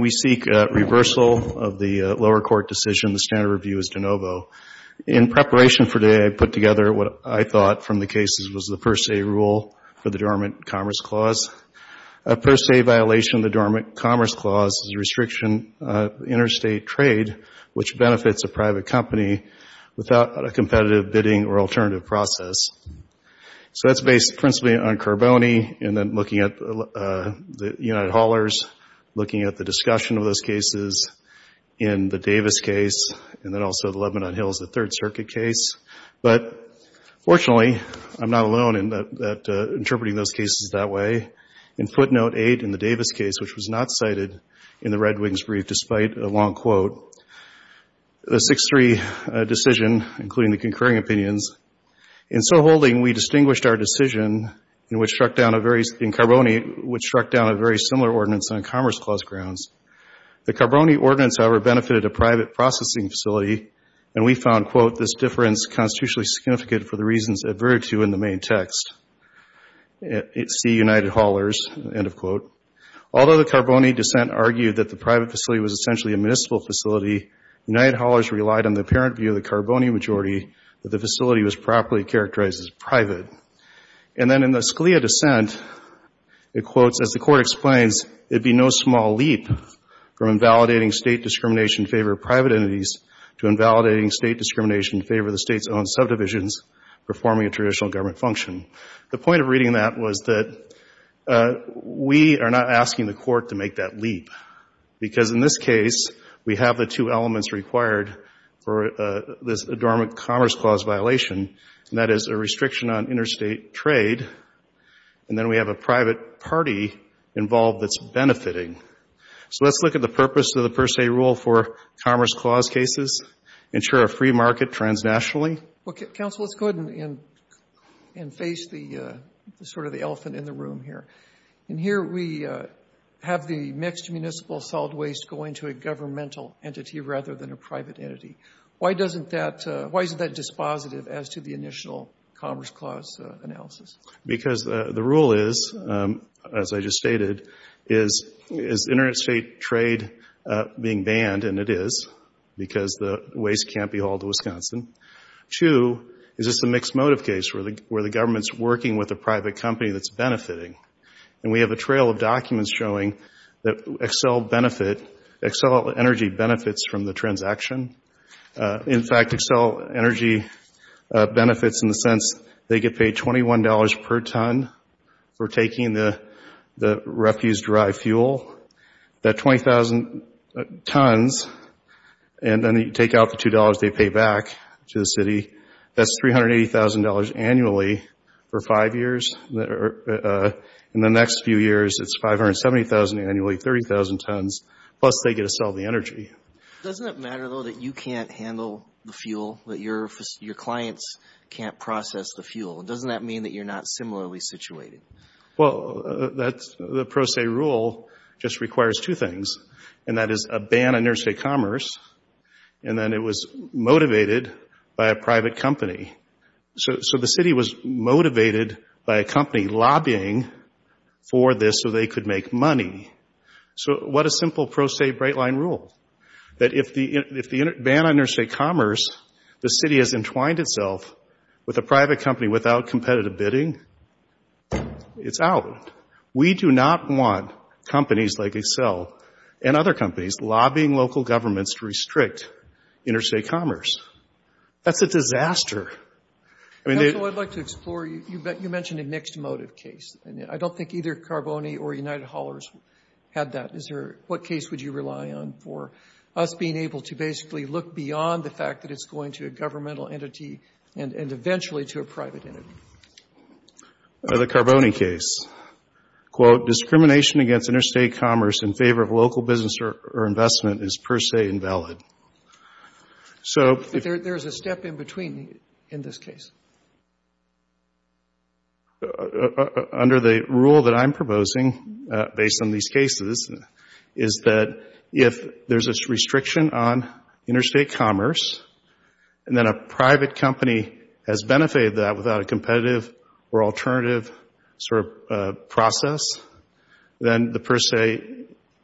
We seek reversal of the lower court decision. The standard review is de novo. In preparation for today, I put together what I thought from the cases was the per se rule for the Dormant Commerce Clause. A per se violation of the Dormant Commerce Clause is a restriction of interstate trade, which benefits a private company, without a competitive bidding or alternative process. So that's based principally on Carboni, and then looking at the United Haulers, looking at the discussion of those cases in the Davis case, and then also the Lebanon Hills, the Third Circuit case. But fortunately, I'm not alone in interpreting those cases that way. In footnote 8 in the Davis case, which was not cited in the Red Long Quote, the 6-3 decision, including the concurring opinions, in so holding, we distinguished our decision in Carboni, which struck down a very similar ordinance on Commerce Clause grounds. The Carboni ordinance, however, benefited a private processing facility, and we found, quote, this difference constitutionally significant for the reasons adverted to in the main text. It's the United Haulers, end of quote. Although the Carboni dissent argued that the private facility was essentially a municipal facility, United Haulers relied on the apparent view of the Carboni majority that the facility was properly characterized as private. And then in the Scalia dissent, it quotes, as the Court explains, it be no small leap from invalidating state discrimination in favor of private entities to invalidating state discrimination in favor of the state's own subdivisions performing a traditional government function. The point of reading that was that we are not asking the Court to make that leap, because in this case, we have the two elements required for this Adornment Commerce Clause violation, and that is a restriction on interstate trade, and then we have a private party involved that's benefiting. So let's look at the purpose of the Per Se Rule for Commerce Clause cases, ensure a free market transnationally. Well, Counsel, let's go ahead and face the sort of the elephant in the room here. And here we have the mixed municipal solid waste going to a governmental entity rather than a private entity. Why isn't that dispositive as to the initial Commerce Clause analysis? Because the rule is, as I just stated, is interstate trade being banned, and it is, because the waste can't be hauled to Wisconsin. Two, is this a mixed motive case, where the trail of documents showing that Xcel Energy benefits from the transaction. In fact, Xcel Energy benefits in the sense they get paid $21 per ton for taking the refuse-derived fuel. That 20,000 tons, and then they take out the $2 they pay back to the city, that's $380,000 annually for five years. In the next few years, it's $570,000 annually, 30,000 tons, plus they get to sell the energy. Doesn't it matter, though, that you can't handle the fuel, that your clients can't process the fuel? Doesn't that mean that you're not similarly situated? Well, the Per Se Rule just requires two things, and that is a ban on interstate commerce, and then it was motivated by a private company. So the city was motivated by a company lobbying for this so they could make money. So what a simple Pro Se Bright Line Rule, that if the ban on interstate commerce, the city has entwined itself with a private company without competitive bidding, it's out. We do not want companies like Xcel, and other companies, lobbying local governments to restrict interstate commerce. That's a disaster. That's what I'd like to explore. You mentioned a mixed motive case. I don't think either Carboni or United Haulers had that. What case would you rely on for us being able to basically look beyond the fact that it's going to a governmental entity and eventually to a private entity? The Carboni case. Quote, discrimination against interstate commerce in favor of local business or investment is Per Se invalid. But there's a step in between in this case. Under the rule that I'm proposing, based on these cases, is that if there's a restriction on interstate commerce, and then a private company has benefited that without a competitive or alternative sort of process, then the Per Se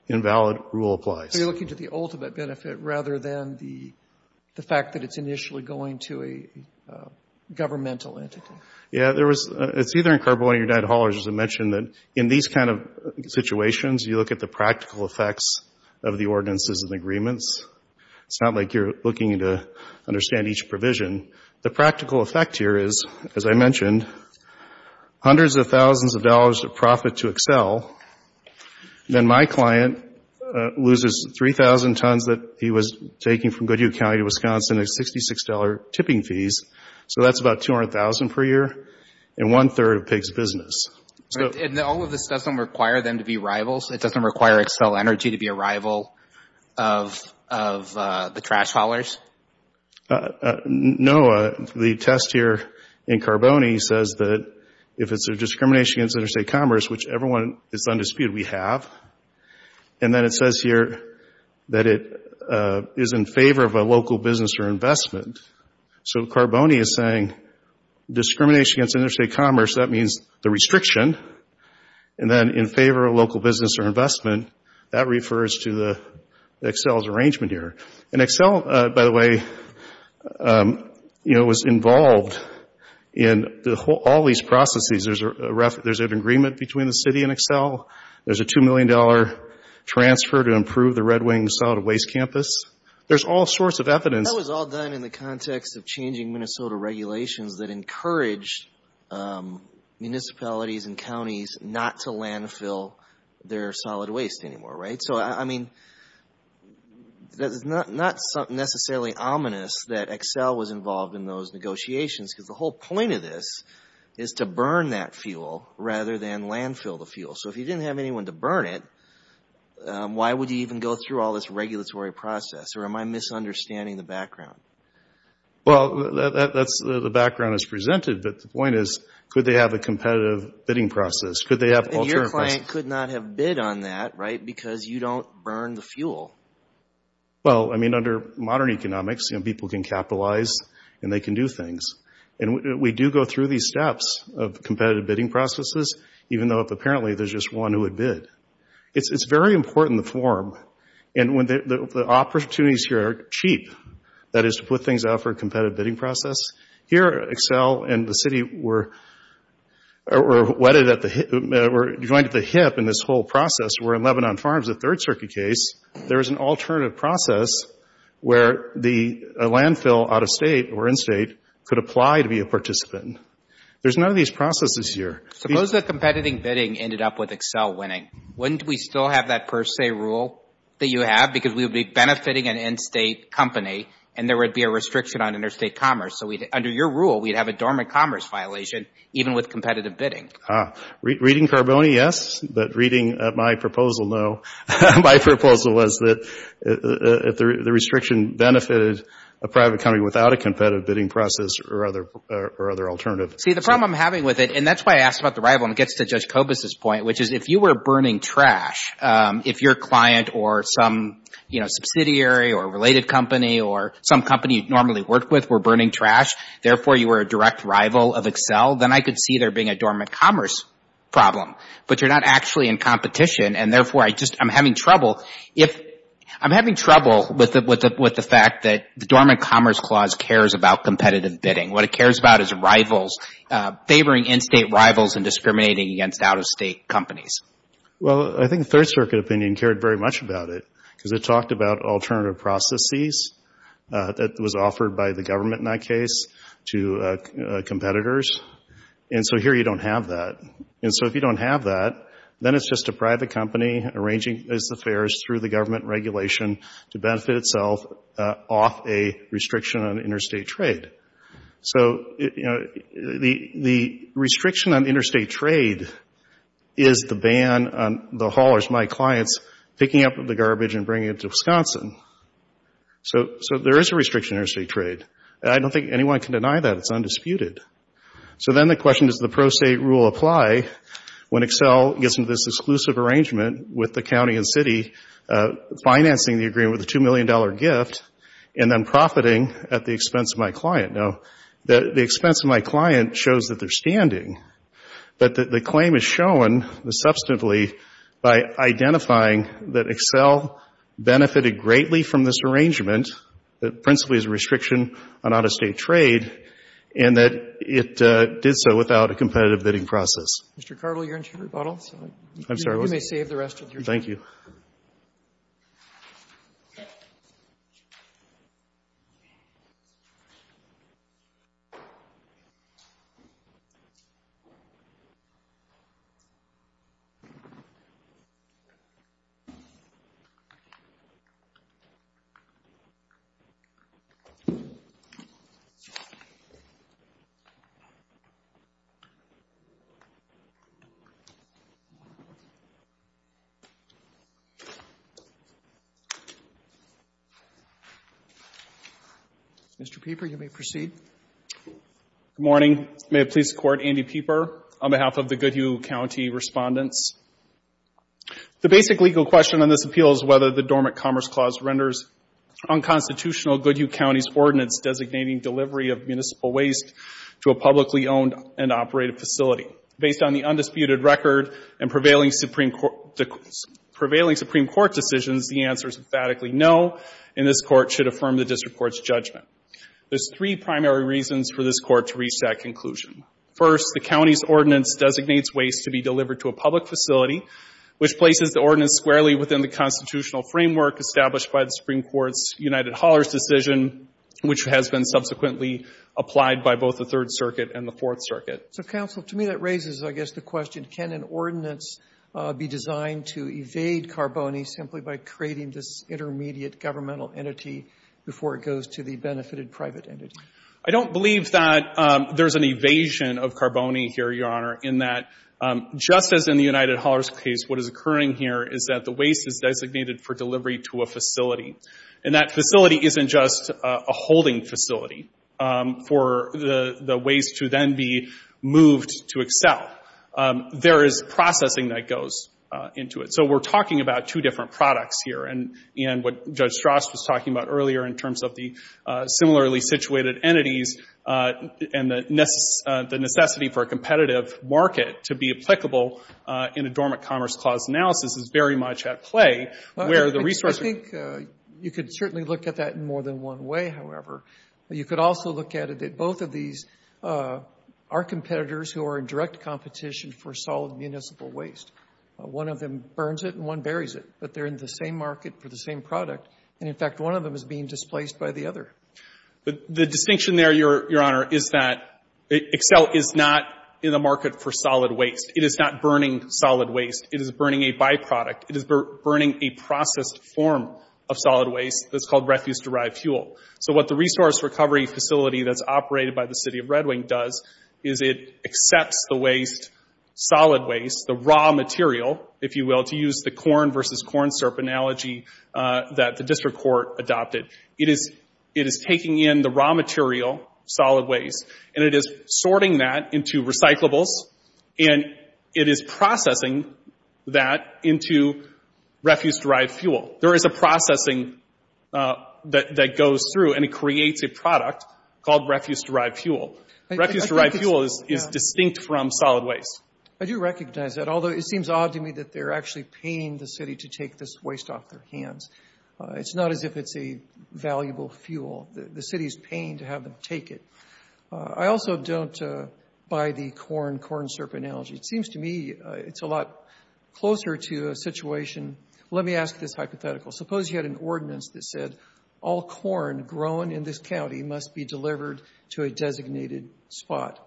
invalid rule applies. So you're looking to the ultimate benefit rather than the fact that it's initially going to a governmental entity. Yeah. There was — it's either in Carboni or United Haulers, as I mentioned, that in these kind of situations, you look at the practical effects of the ordinances and agreements. It's not like you're looking to understand each provision. The practical effect here is, as I mentioned, hundreds of thousands of dollars of profit to Xcel, then my client loses 3,000 tons that he was taking from Goodyear County to Wisconsin at $66 tipping fees. So that's about $200,000 per year, and one-third of Pig's business. And all of this doesn't require them to be rivals? It doesn't require Xcel Energy to be a rival of the trash haulers? No. The test here in Carboni says that if it's a discrimination against interstate commerce, which everyone is undisputed we have, and then it says here that it is in favor of a local business or investment. So Carboni is saying discrimination against interstate commerce, that means the restriction, and then in favor of local business or investment, that refers to Xcel's arrangement here. And Xcel, by the way, was involved in all these processes. There's an agreement between the city and Xcel. There's a $2 million transfer to improve the Red Wing Solid Waste Campus. There's all sorts of evidence. That was all done in the context of changing Minnesota regulations that encourage municipalities and counties not to landfill their solid waste anymore, right? So I mean, that's not necessarily ominous that Xcel was involved in those negotiations, because the whole point of this is to burn that fuel rather than landfill the fuel. So if you didn't have anyone to burn it, why would you even go through all this regulatory process? Or am I misunderstanding the background? Well, the background is presented, but the point is, could they have a competitive bidding process? Could they have alternative processes? And your client could not have bid on that, right, because you don't burn the fuel. Well, I mean, under modern economics, people can capitalize and they can do things. And we do go through these steps of competitive bidding processes, even though apparently there's just one who would bid. It's very important, the form, and the opportunities here are cheap. That is, to put things out for a competitive bidding process. Here, Xcel and the city were wedded at the hip, were joined at the hip in this whole process where in Lebanon Farms, the Third Circuit case, there was an alternative process where the landfill out-of-state or in-state could apply to be a participant. There's none of these processes here. Suppose that competitive bidding ended up with Xcel winning. Wouldn't we still have that per se rule that you have? Because we would be benefiting an in-state company and there would be a restriction on interstate commerce. So under your rule, we'd have a dormant commerce violation, even with competitive bidding. Reading Carboni, yes. But reading my proposal, no. My proposal was that if the restriction benefited a private company without a competitive bidding process or other alternatives. See, the problem I'm having with it, and that's why I asked about the rival, and it gets to your client or some, you know, subsidiary or related company or some company you'd normally work with were burning trash, therefore you were a direct rival of Xcel, then I could see there being a dormant commerce problem. But you're not actually in competition and therefore I just, I'm having trouble, I'm having trouble with the fact that the dormant commerce clause cares about competitive bidding. What it cares about is rivals, favoring in-state rivals and discriminating against out-of-state companies. Well, I think the Third Circuit opinion cared very much about it because it talked about alternative processes that was offered by the government in that case to competitors. And so here you don't have that. And so if you don't have that, then it's just a private company arranging its affairs through the government regulation to benefit itself off a restriction on interstate trade. So, you know, the restriction on interstate trade is the ban on the haulers, my clients, picking up the garbage and bringing it to Wisconsin. So there is a restriction on interstate trade. I don't think anyone can deny that. It's undisputed. So then the question is, does the pro se rule apply when Xcel gets into this exclusive arrangement with the county and city, financing the agreement with a $2 million gift and then profiting at the expense of my client? Now, the expense of my client shows that they're standing, but the claim is shown substantively by identifying that Xcel benefited greatly from this arrangement that principally is a restriction on out-of-state trade and that it did so without a competitive bidding process. Mr. Carville, you're into your rebuttal, so you may save the rest of your time. Thank you. Thank you. Mr. Pieper, you may proceed. Good morning. May it please the Court, Andy Pieper, on behalf of the Goodyou County Respondents. The basic legal question on this appeal is whether the Dormant Commerce Clause renders unconstitutional Goodyou County's ordinance designating delivery of municipal waste to a publicly owned and operated facility. Based on the undisputed record and prevailing Supreme Court decisions, the answer is emphatically no, and this Court should affirm the district court's judgment. There's three primary reasons for this Court to reach that conclusion. First, the county's ordinance designates waste to be delivered to a public facility, which places the ordinance squarely within the constitutional framework established by the Supreme Court's United Haulers decision, which has been subsequently applied by both the Third Circuit and the Fourth Circuit. So, Counsel, to me that raises, I guess, the question, can an ordinance be designed to evade carboni simply by creating this intermediate governmental entity before it goes to the benefited private entity? I don't believe that there's an evasion of carboni here, Your Honor, in that just as in the United Haulers case, what is occurring here is that the waste is designated for delivery to a facility, and that facility isn't just a holding facility for the waste to then be moved to Excel. There is processing that goes into it. So we're talking about two different products here, and what Judge Strass was talking about earlier in terms of the similarly situated entities and the necessity for a competitive market to be applicable in a dormant commerce clause analysis is very much at play, where the resource I think you could certainly look at that in more than one way, however. You could also look at it that both of these are competitors who are in direct competition for solid municipal waste. One of them burns it and one buries it, but they're in the same market for the same product, and in fact, one of them is being displaced by the other. The distinction there, Your Honor, is that Excel is not in the market for solid waste. It is not burning solid waste. It is burning a byproduct. It is burning a processed form of solid waste that's called refuse-derived fuel. So what the resource recovery facility that's operated by the City of Red Wing does is it accepts the waste, solid waste, the raw material, if you will, to use the corn versus corn syrup analogy that the district court adopted. It is taking in the raw material, solid waste, and it is sorting that into recyclables, and it is processing that into refuse-derived fuel. There is a processing that goes through, and it creates a product called refuse-derived fuel. Refuse-derived fuel is distinct from solid waste. I do recognize that, although it seems odd to me that they're actually paying the city to take this waste off their hands. It's not as if it's a valuable fuel. The city is paying to have them take it. I also don't buy the corn, corn syrup analogy. It seems to me it's a lot closer to a situation. Let me ask this hypothetical. Suppose you had an ordinance that said all corn grown in this county must be delivered to a designated spot.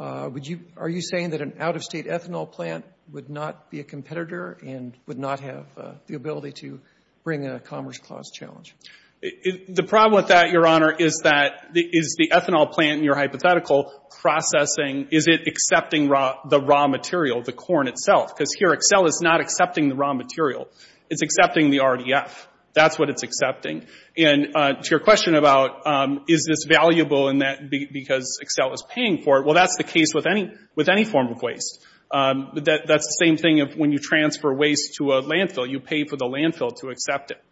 Are you saying that an out-of-state ethanol plant would not be a competitor and would not have the ability to bring a Commerce Clause challenge? The problem with that, Your Honor, is that is the ethanol plant in your hypothetical processing? Is it accepting the raw material, the corn itself? Excel is not accepting the raw material. It's accepting the RDF. That's what it's accepting. To your question about is this valuable because Excel is paying for it, that's the case with any form of waste. That's the same thing when you transfer waste to a landfill. You pay for the landfill to accept it.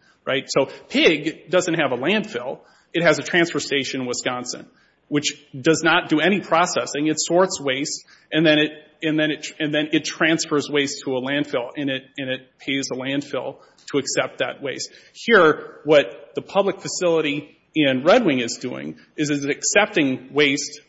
So Pig doesn't have a landfill. It has a transfer station in Wisconsin, which does not do any processing. It sorts waste, and then it transfers waste to a landfill, and it pays the landfill to accept that waste. Here, what the public facility in Red Wing is doing is it's accepting waste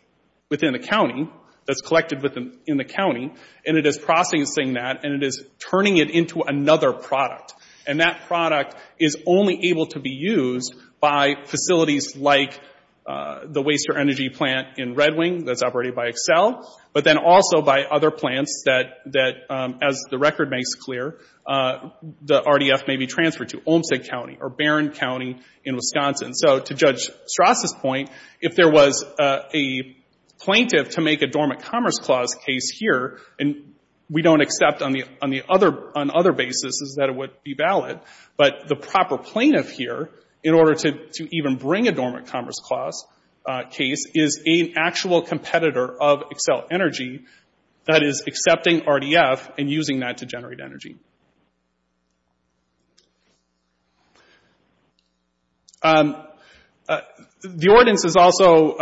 within the county that's collected in the county, and it is processing that, and it is turning it into another product. And that product is only able to be used by facilities like the Waster Energy Plant in Red Wing that's operated by Excel, but then also by other plants that, as the record makes clear, the RDF may be transferred to, Olmstead County or Barron County in Wisconsin. So to Judge Strass' point, if there was a plaintiff to make a Dormant Commerce Clause case here, and we don't accept on other basis that it would be valid, but the proper plaintiff here, in order to even bring a Dormant Commerce Clause case, is an actual competitor of Excel Energy that is accepting RDF and using that to generate energy. The ordinance is also,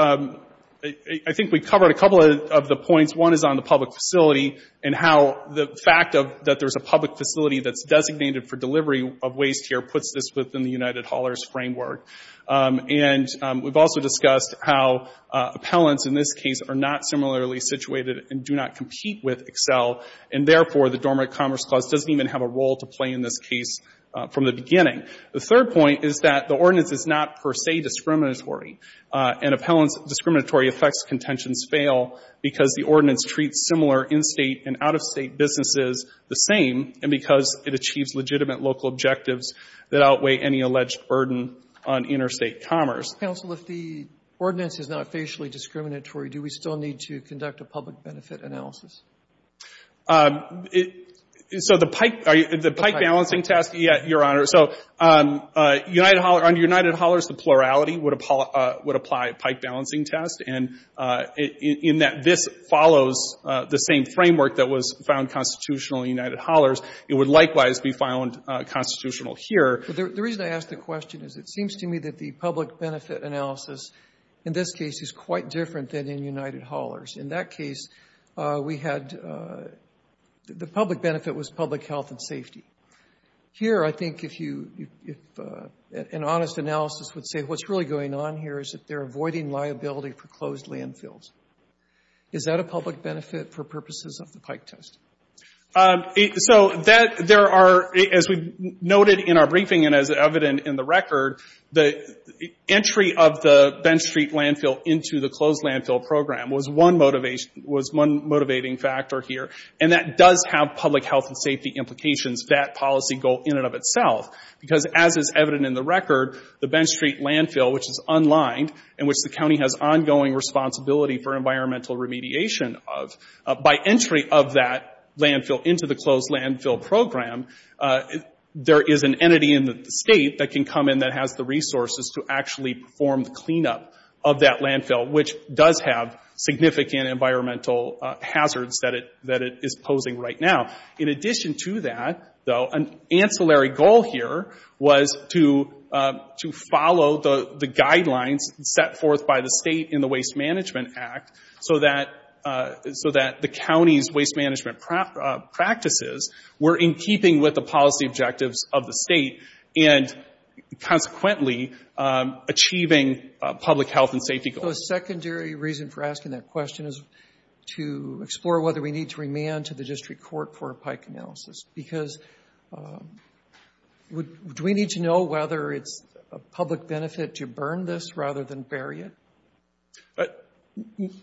I think we covered a couple of the points. One is on the public facility and how the fact that there's a public facility that's designated for delivery of waste here puts this within the United Haulers framework. And we've also discussed how appellants in this case are not similarly situated and do not compete with Excel, and therefore the Dormant Commerce Clause doesn't even have a role to play in this case from the beginning. The third point is that the ordinance is not per se discriminatory, and appellants discriminatory effects contentions fail because the ordinance treats similar in-state and out-of-state businesses the same and because it achieves legitimate local objectives that outweigh any alleged burden on interstate commerce. Counsel, if the ordinance is not facially discriminatory, do we still need to conduct a public benefit analysis? So the pike balancing test, Your Honor, so under United Haulers, the plurality would apply pike balancing test in that this follows the same framework that was found constitutional in United Haulers. It would likewise be found constitutional here. The reason I ask the question is it seems to me that the public benefit analysis in this case is quite different than in United Haulers. In that case, we had the public benefit was public health and safety. Here, I think if you if an honest analysis would say what's really going on here is that they're avoiding liability for closed landfills. Is that a public benefit for purposes of the pike test? So there are, as we noted in our briefing and as evident in the record, the entry of the Bench Street landfill into the closed landfill program was one motivating factor here, and that does have public health and safety implications, that policy goal in and of itself, because as is evident in the record, the Bench Street landfill, which is unlined and which the county has ongoing responsibility for environmental remediation of, by entry of that landfill into the closed landfill program, there is an entity in the state that can come in that has the resources to actually perform the cleanup of that landfill, which does have significant environmental hazards that it is posing right now. In addition to that, though, an ancillary goal here was to follow the guidelines set forth by the state in the Waste Management Act so that the county's waste management practices were in keeping with the policy objectives of the state and consequently achieving public health and safety goals. So a secondary reason for asking that question is to explore whether we need to remand to the district court for a pike analysis, because do we need to know whether it's a public benefit to burn this rather than bury it?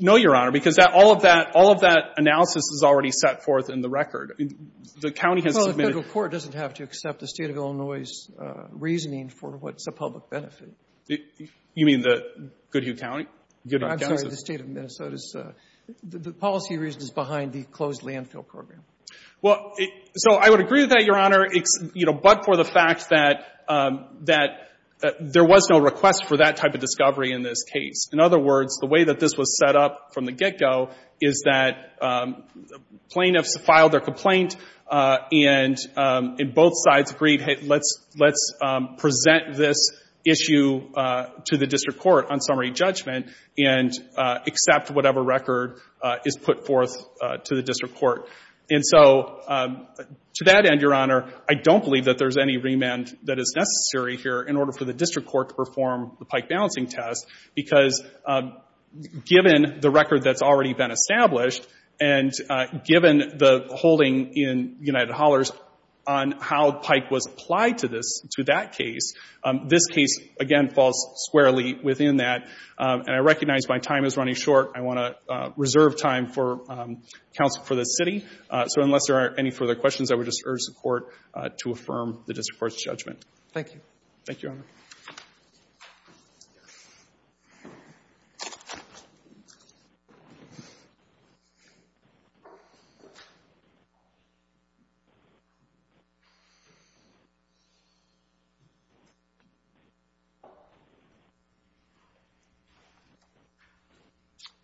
No, Your Honor, because all of that analysis is already set forth in the record. The county has submitted... Well, the federal court doesn't have to accept the State of Illinois's reasoning for what's a public benefit. You mean the Goodhue County? I'm sorry, the State of Minnesota's. The policy reason is behind the closed landfill program. Well, so I would agree with that, Your Honor, but for the fact that there was no request for that type of discovery in this case. In other words, the way that this was set up from the get-go is that plaintiffs filed their complaint and both sides agreed, hey, let's present this issue to the district court on summary judgment and accept whatever record is put forth to the district court. And so to that end, Your Honor, I don't believe that there's any remand that is necessary here in order for the district court to perform the pike balancing test, because given the record that's already been established and given the case, this case, again, falls squarely within that. And I recognize my time is running short. I want to reserve time for counsel for this city. So unless there are any further questions, I would just urge the court to affirm the district court's judgment. Thank you. Roberts.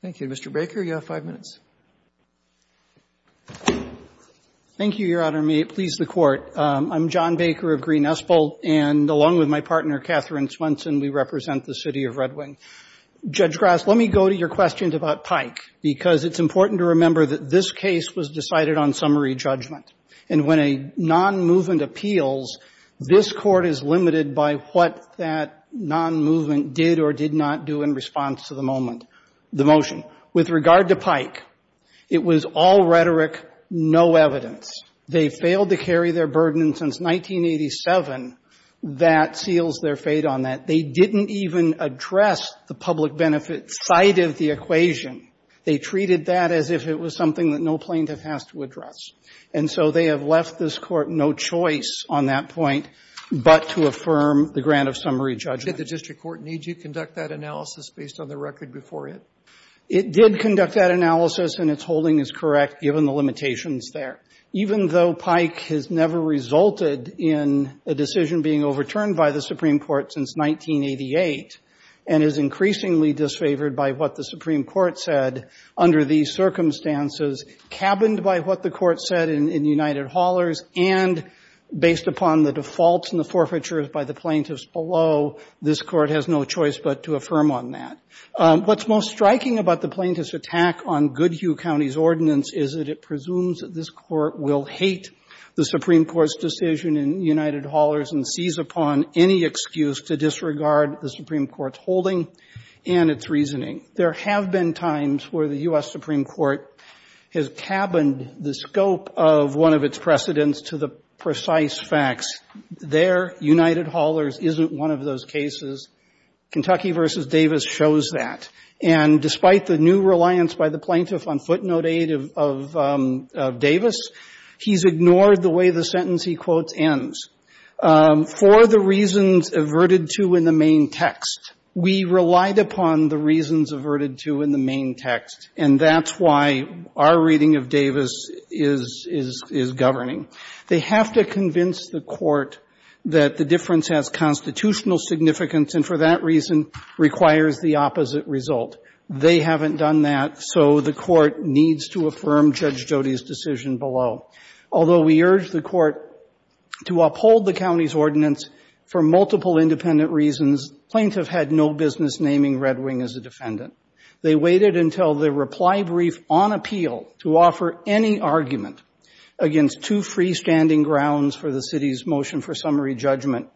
Thank you. Mr. Baker, you have five minutes. Thank you, Your Honor. May it please the Court. I'm John Baker of Green-Espol, and along with my partner, Catherine Swenson, we represent the City of Red Wing. Judge Grass, let me go to your questions about pike, because it's important to remember that this case was decided on summary judgment. And when a non-movement appeals, this Court is limited by what that non-movement did or did not do in response to the moment, the motion. With regard to pike, it was all rhetoric, no evidence. They failed to carry their burden. And since 1987, that seals their fate on that. They didn't even address the public benefit side of the equation. They treated that as if it was something that no plaintiff has to address. And so they have left this Court no choice on that point but to affirm the grant of summary judgment. Did the district court need to conduct that analysis based on the record before it? It did conduct that analysis, and its holding is correct, given the limitations there. Even though pike has never resulted in a decision being overturned by the Supreme Court since 1988 and is increasingly disfavored by what the Supreme Court said under these circumstances, cabined by what the Court said in United Haulers and based upon the defaults and the forfeitures by the plaintiffs below, this Court has no choice but to affirm on that. What's most striking about the plaintiff's attack on this decision in United Haulers and seize upon any excuse to disregard the Supreme Court's holding and its reasoning, there have been times where the U.S. Supreme Court has cabined the scope of one of its precedents to the precise facts. There, United Haulers isn't one of those cases. Kentucky v. Davis shows that. And despite the new reliance by the plaintiff on footnote aid of Davis, he's ignored the way the sentence he quotes ends. For the reasons averted to in the main text, we relied upon the reasons averted to in the main text, and that's why our reading of Davis is governing. They have to convince the Court that the difference has constitutional significance and, for that reason, requires the opposite result. They haven't done that, so the Court has to affirm Judge Jody's decision below. Although we urge the Court to uphold the county's ordinance for multiple independent reasons, plaintiffs have had no business naming Red Wing as a defendant. They waited until the reply brief on appeal to offer any argument against two freestanding grounds for the city's motion for summary judgment.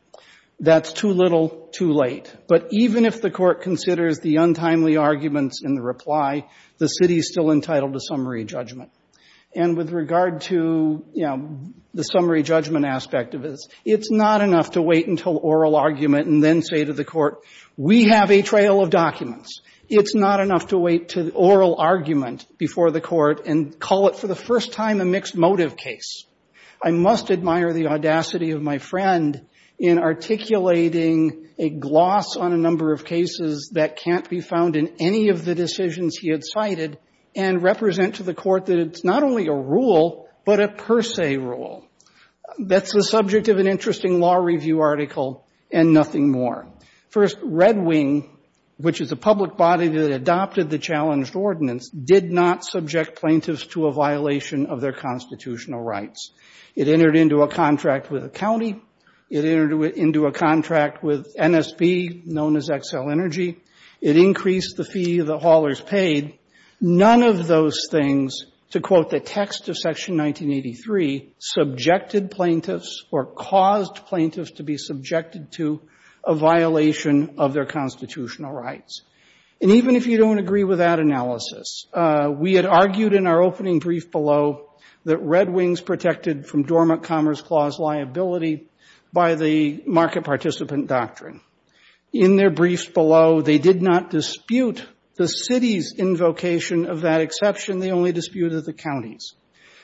That's too little, too late. But even if the Court considers the untimely arguments in the reply, the city is still entitled to summary judgment. And with regard to, you know, the summary judgment aspect of this, it's not enough to wait until oral argument and then say to the Court, we have a trail of documents. It's not enough to wait until oral argument before the Court and call it for the first time a mixed motive case. I must admire the audacity of my friend in articulating a gloss on a number of cases that can't be found in any of the decisions he had cited and represent to the Court that it's not only a rule, but a per se rule. That's the subject of an interesting law review article and nothing more. First, Red Wing, which is a public body that adopted the challenged ordinance, did not subject plaintiffs to a violation of their constitutional rights. It entered into a contract with a county. It entered into a contract with NSB, known as XL Energy. It increased the fee the haulers paid. None of those things, to quote the text of Section 1983, subjected plaintiffs or caused plaintiffs to be subjected to a violation of their constitutional rights. And even if you don't agree with that analysis, we had argued in our opening brief below that Red Wing's protected from the Dormant Commerce Clause liability by the market participant doctrine. In their briefs below, they did not dispute the city's invocation of that exception. They only disputed the county's.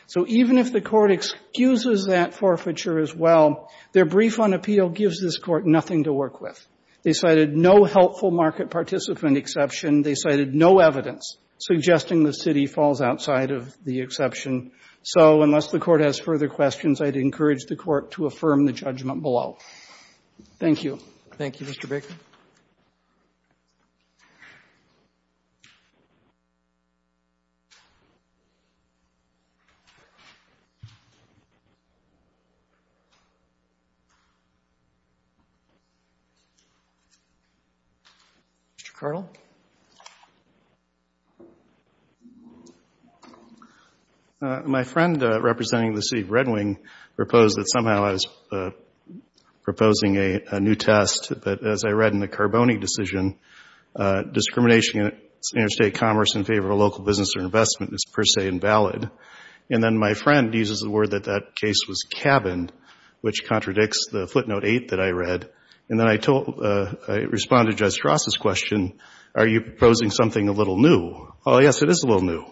So even if the Court excuses that forfeiture as well, their brief on appeal gives this Court nothing to work with. They cited no helpful market participant exception. They cited no evidence suggesting the city falls outside of the exception. So unless the Court has further questions, I'd encourage the Court to affirm the judgment below. Thank you. Roberts. Thank you, Mr. Baker. Mr. Carl. My friend representing the city of Red Wing proposed that somehow I was proposing a new test, but as I read in the Carboni decision, discrimination against interstate commerce in favor of local business or investment is per se invalid. And then my friend uses the word that that case was cabined, which contradicts the footnote eight that I read. And then I responded to Justice Ross's question, are you proposing something a little new? Oh, yes, it is a little new.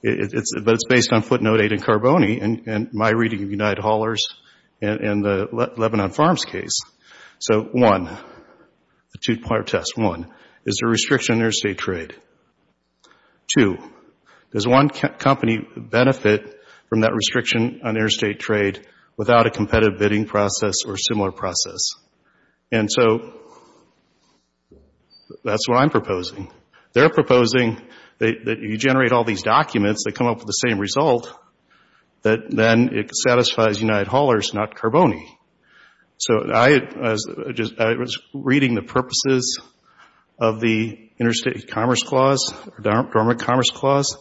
But it's based on footnote eight in Carboni and my footnote one, the two-part test. One, is there a restriction on interstate trade? Two, does one company benefit from that restriction on interstate trade without a competitive bidding process or similar process? And so that's what I'm proposing. They're proposing that you generate all these documents that come up with the same result, that then it satisfies United Haulers, not Carboni. So I was reading the purposes of the Interstate Commerce Clause, Dormant Commerce Clause.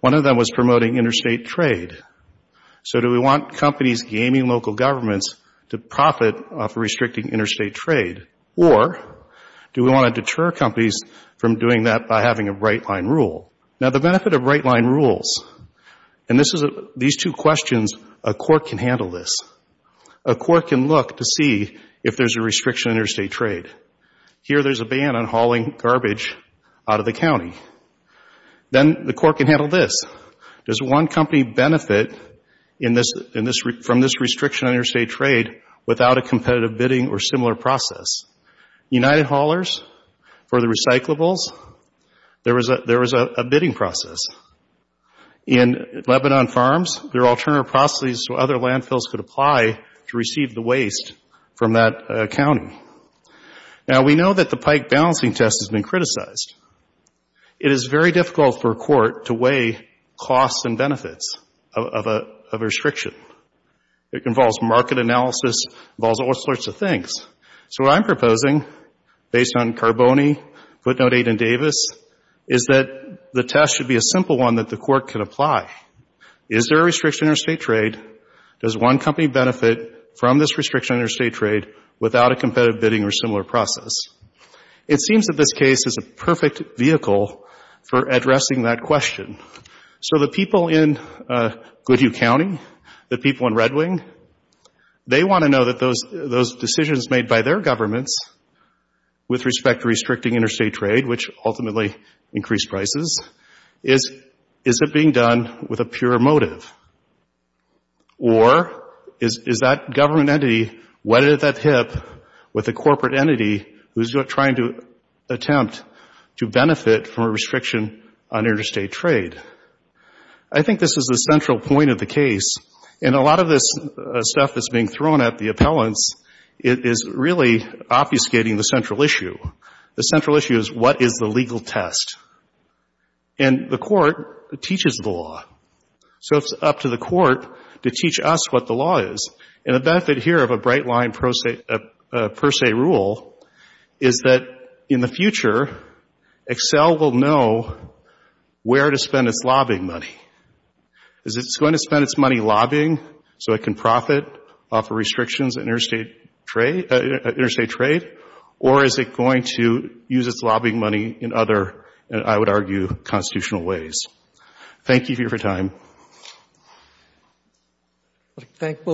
One of them was promoting interstate trade. So do we want companies gaming local governments to profit off restricting interstate trade? Or do we want to deter companies from doing that by having a right-line rules? And these two questions, a court can handle this. A court can look to see if there's a restriction on interstate trade. Here there's a ban on hauling garbage out of the county. Then the court can handle this. Does one company benefit from this restriction on interstate trade without a competitive bidding or similar process? United Haulers, for the recyclables, there was a bidding process. In Lebanon Farms, there were alternative processes so other landfills could apply to receive the waste from that county. Now, we know that the pike balancing test has been criticized. It is very difficult for a court to weigh costs and benefits of a restriction. It involves market analysis. It involves all sorts of things. So what I'm proposing, based on Carboni, Footnote 8 and Davis, is that the test should be a simple one that the court can apply. Is there a restriction on interstate trade? Does one company benefit from this restriction on interstate trade without a competitive bidding or similar process? It seems that this case is a perfect vehicle for addressing that question. So the people in Goodyear County, the people in Red Wing, they want to know that those decisions made by their governments with respect to restricting interstate trade, which ultimately increased prices, is it being done with a pure motive? Or is that government entity wedded at that hip with a corporate entity who's trying to attempt to benefit from a restriction on interstate trade? I think this is the central point of the case. And a lot of this stuff that's being thrown at the appellants is really obfuscating the central issue. The central issue is what is the legal test? And the court teaches the law. So it's up to the court to teach us what the law is. And the benefit here of a bright-line per se rule is that in the future, Excel will know where to spend its lobbying money. Is it going to spend its money lobbying so it can profit off of restrictions on interstate trade? Or is it going to use its lobbying money in other, I would argue, constitutional ways? Thank you for your time.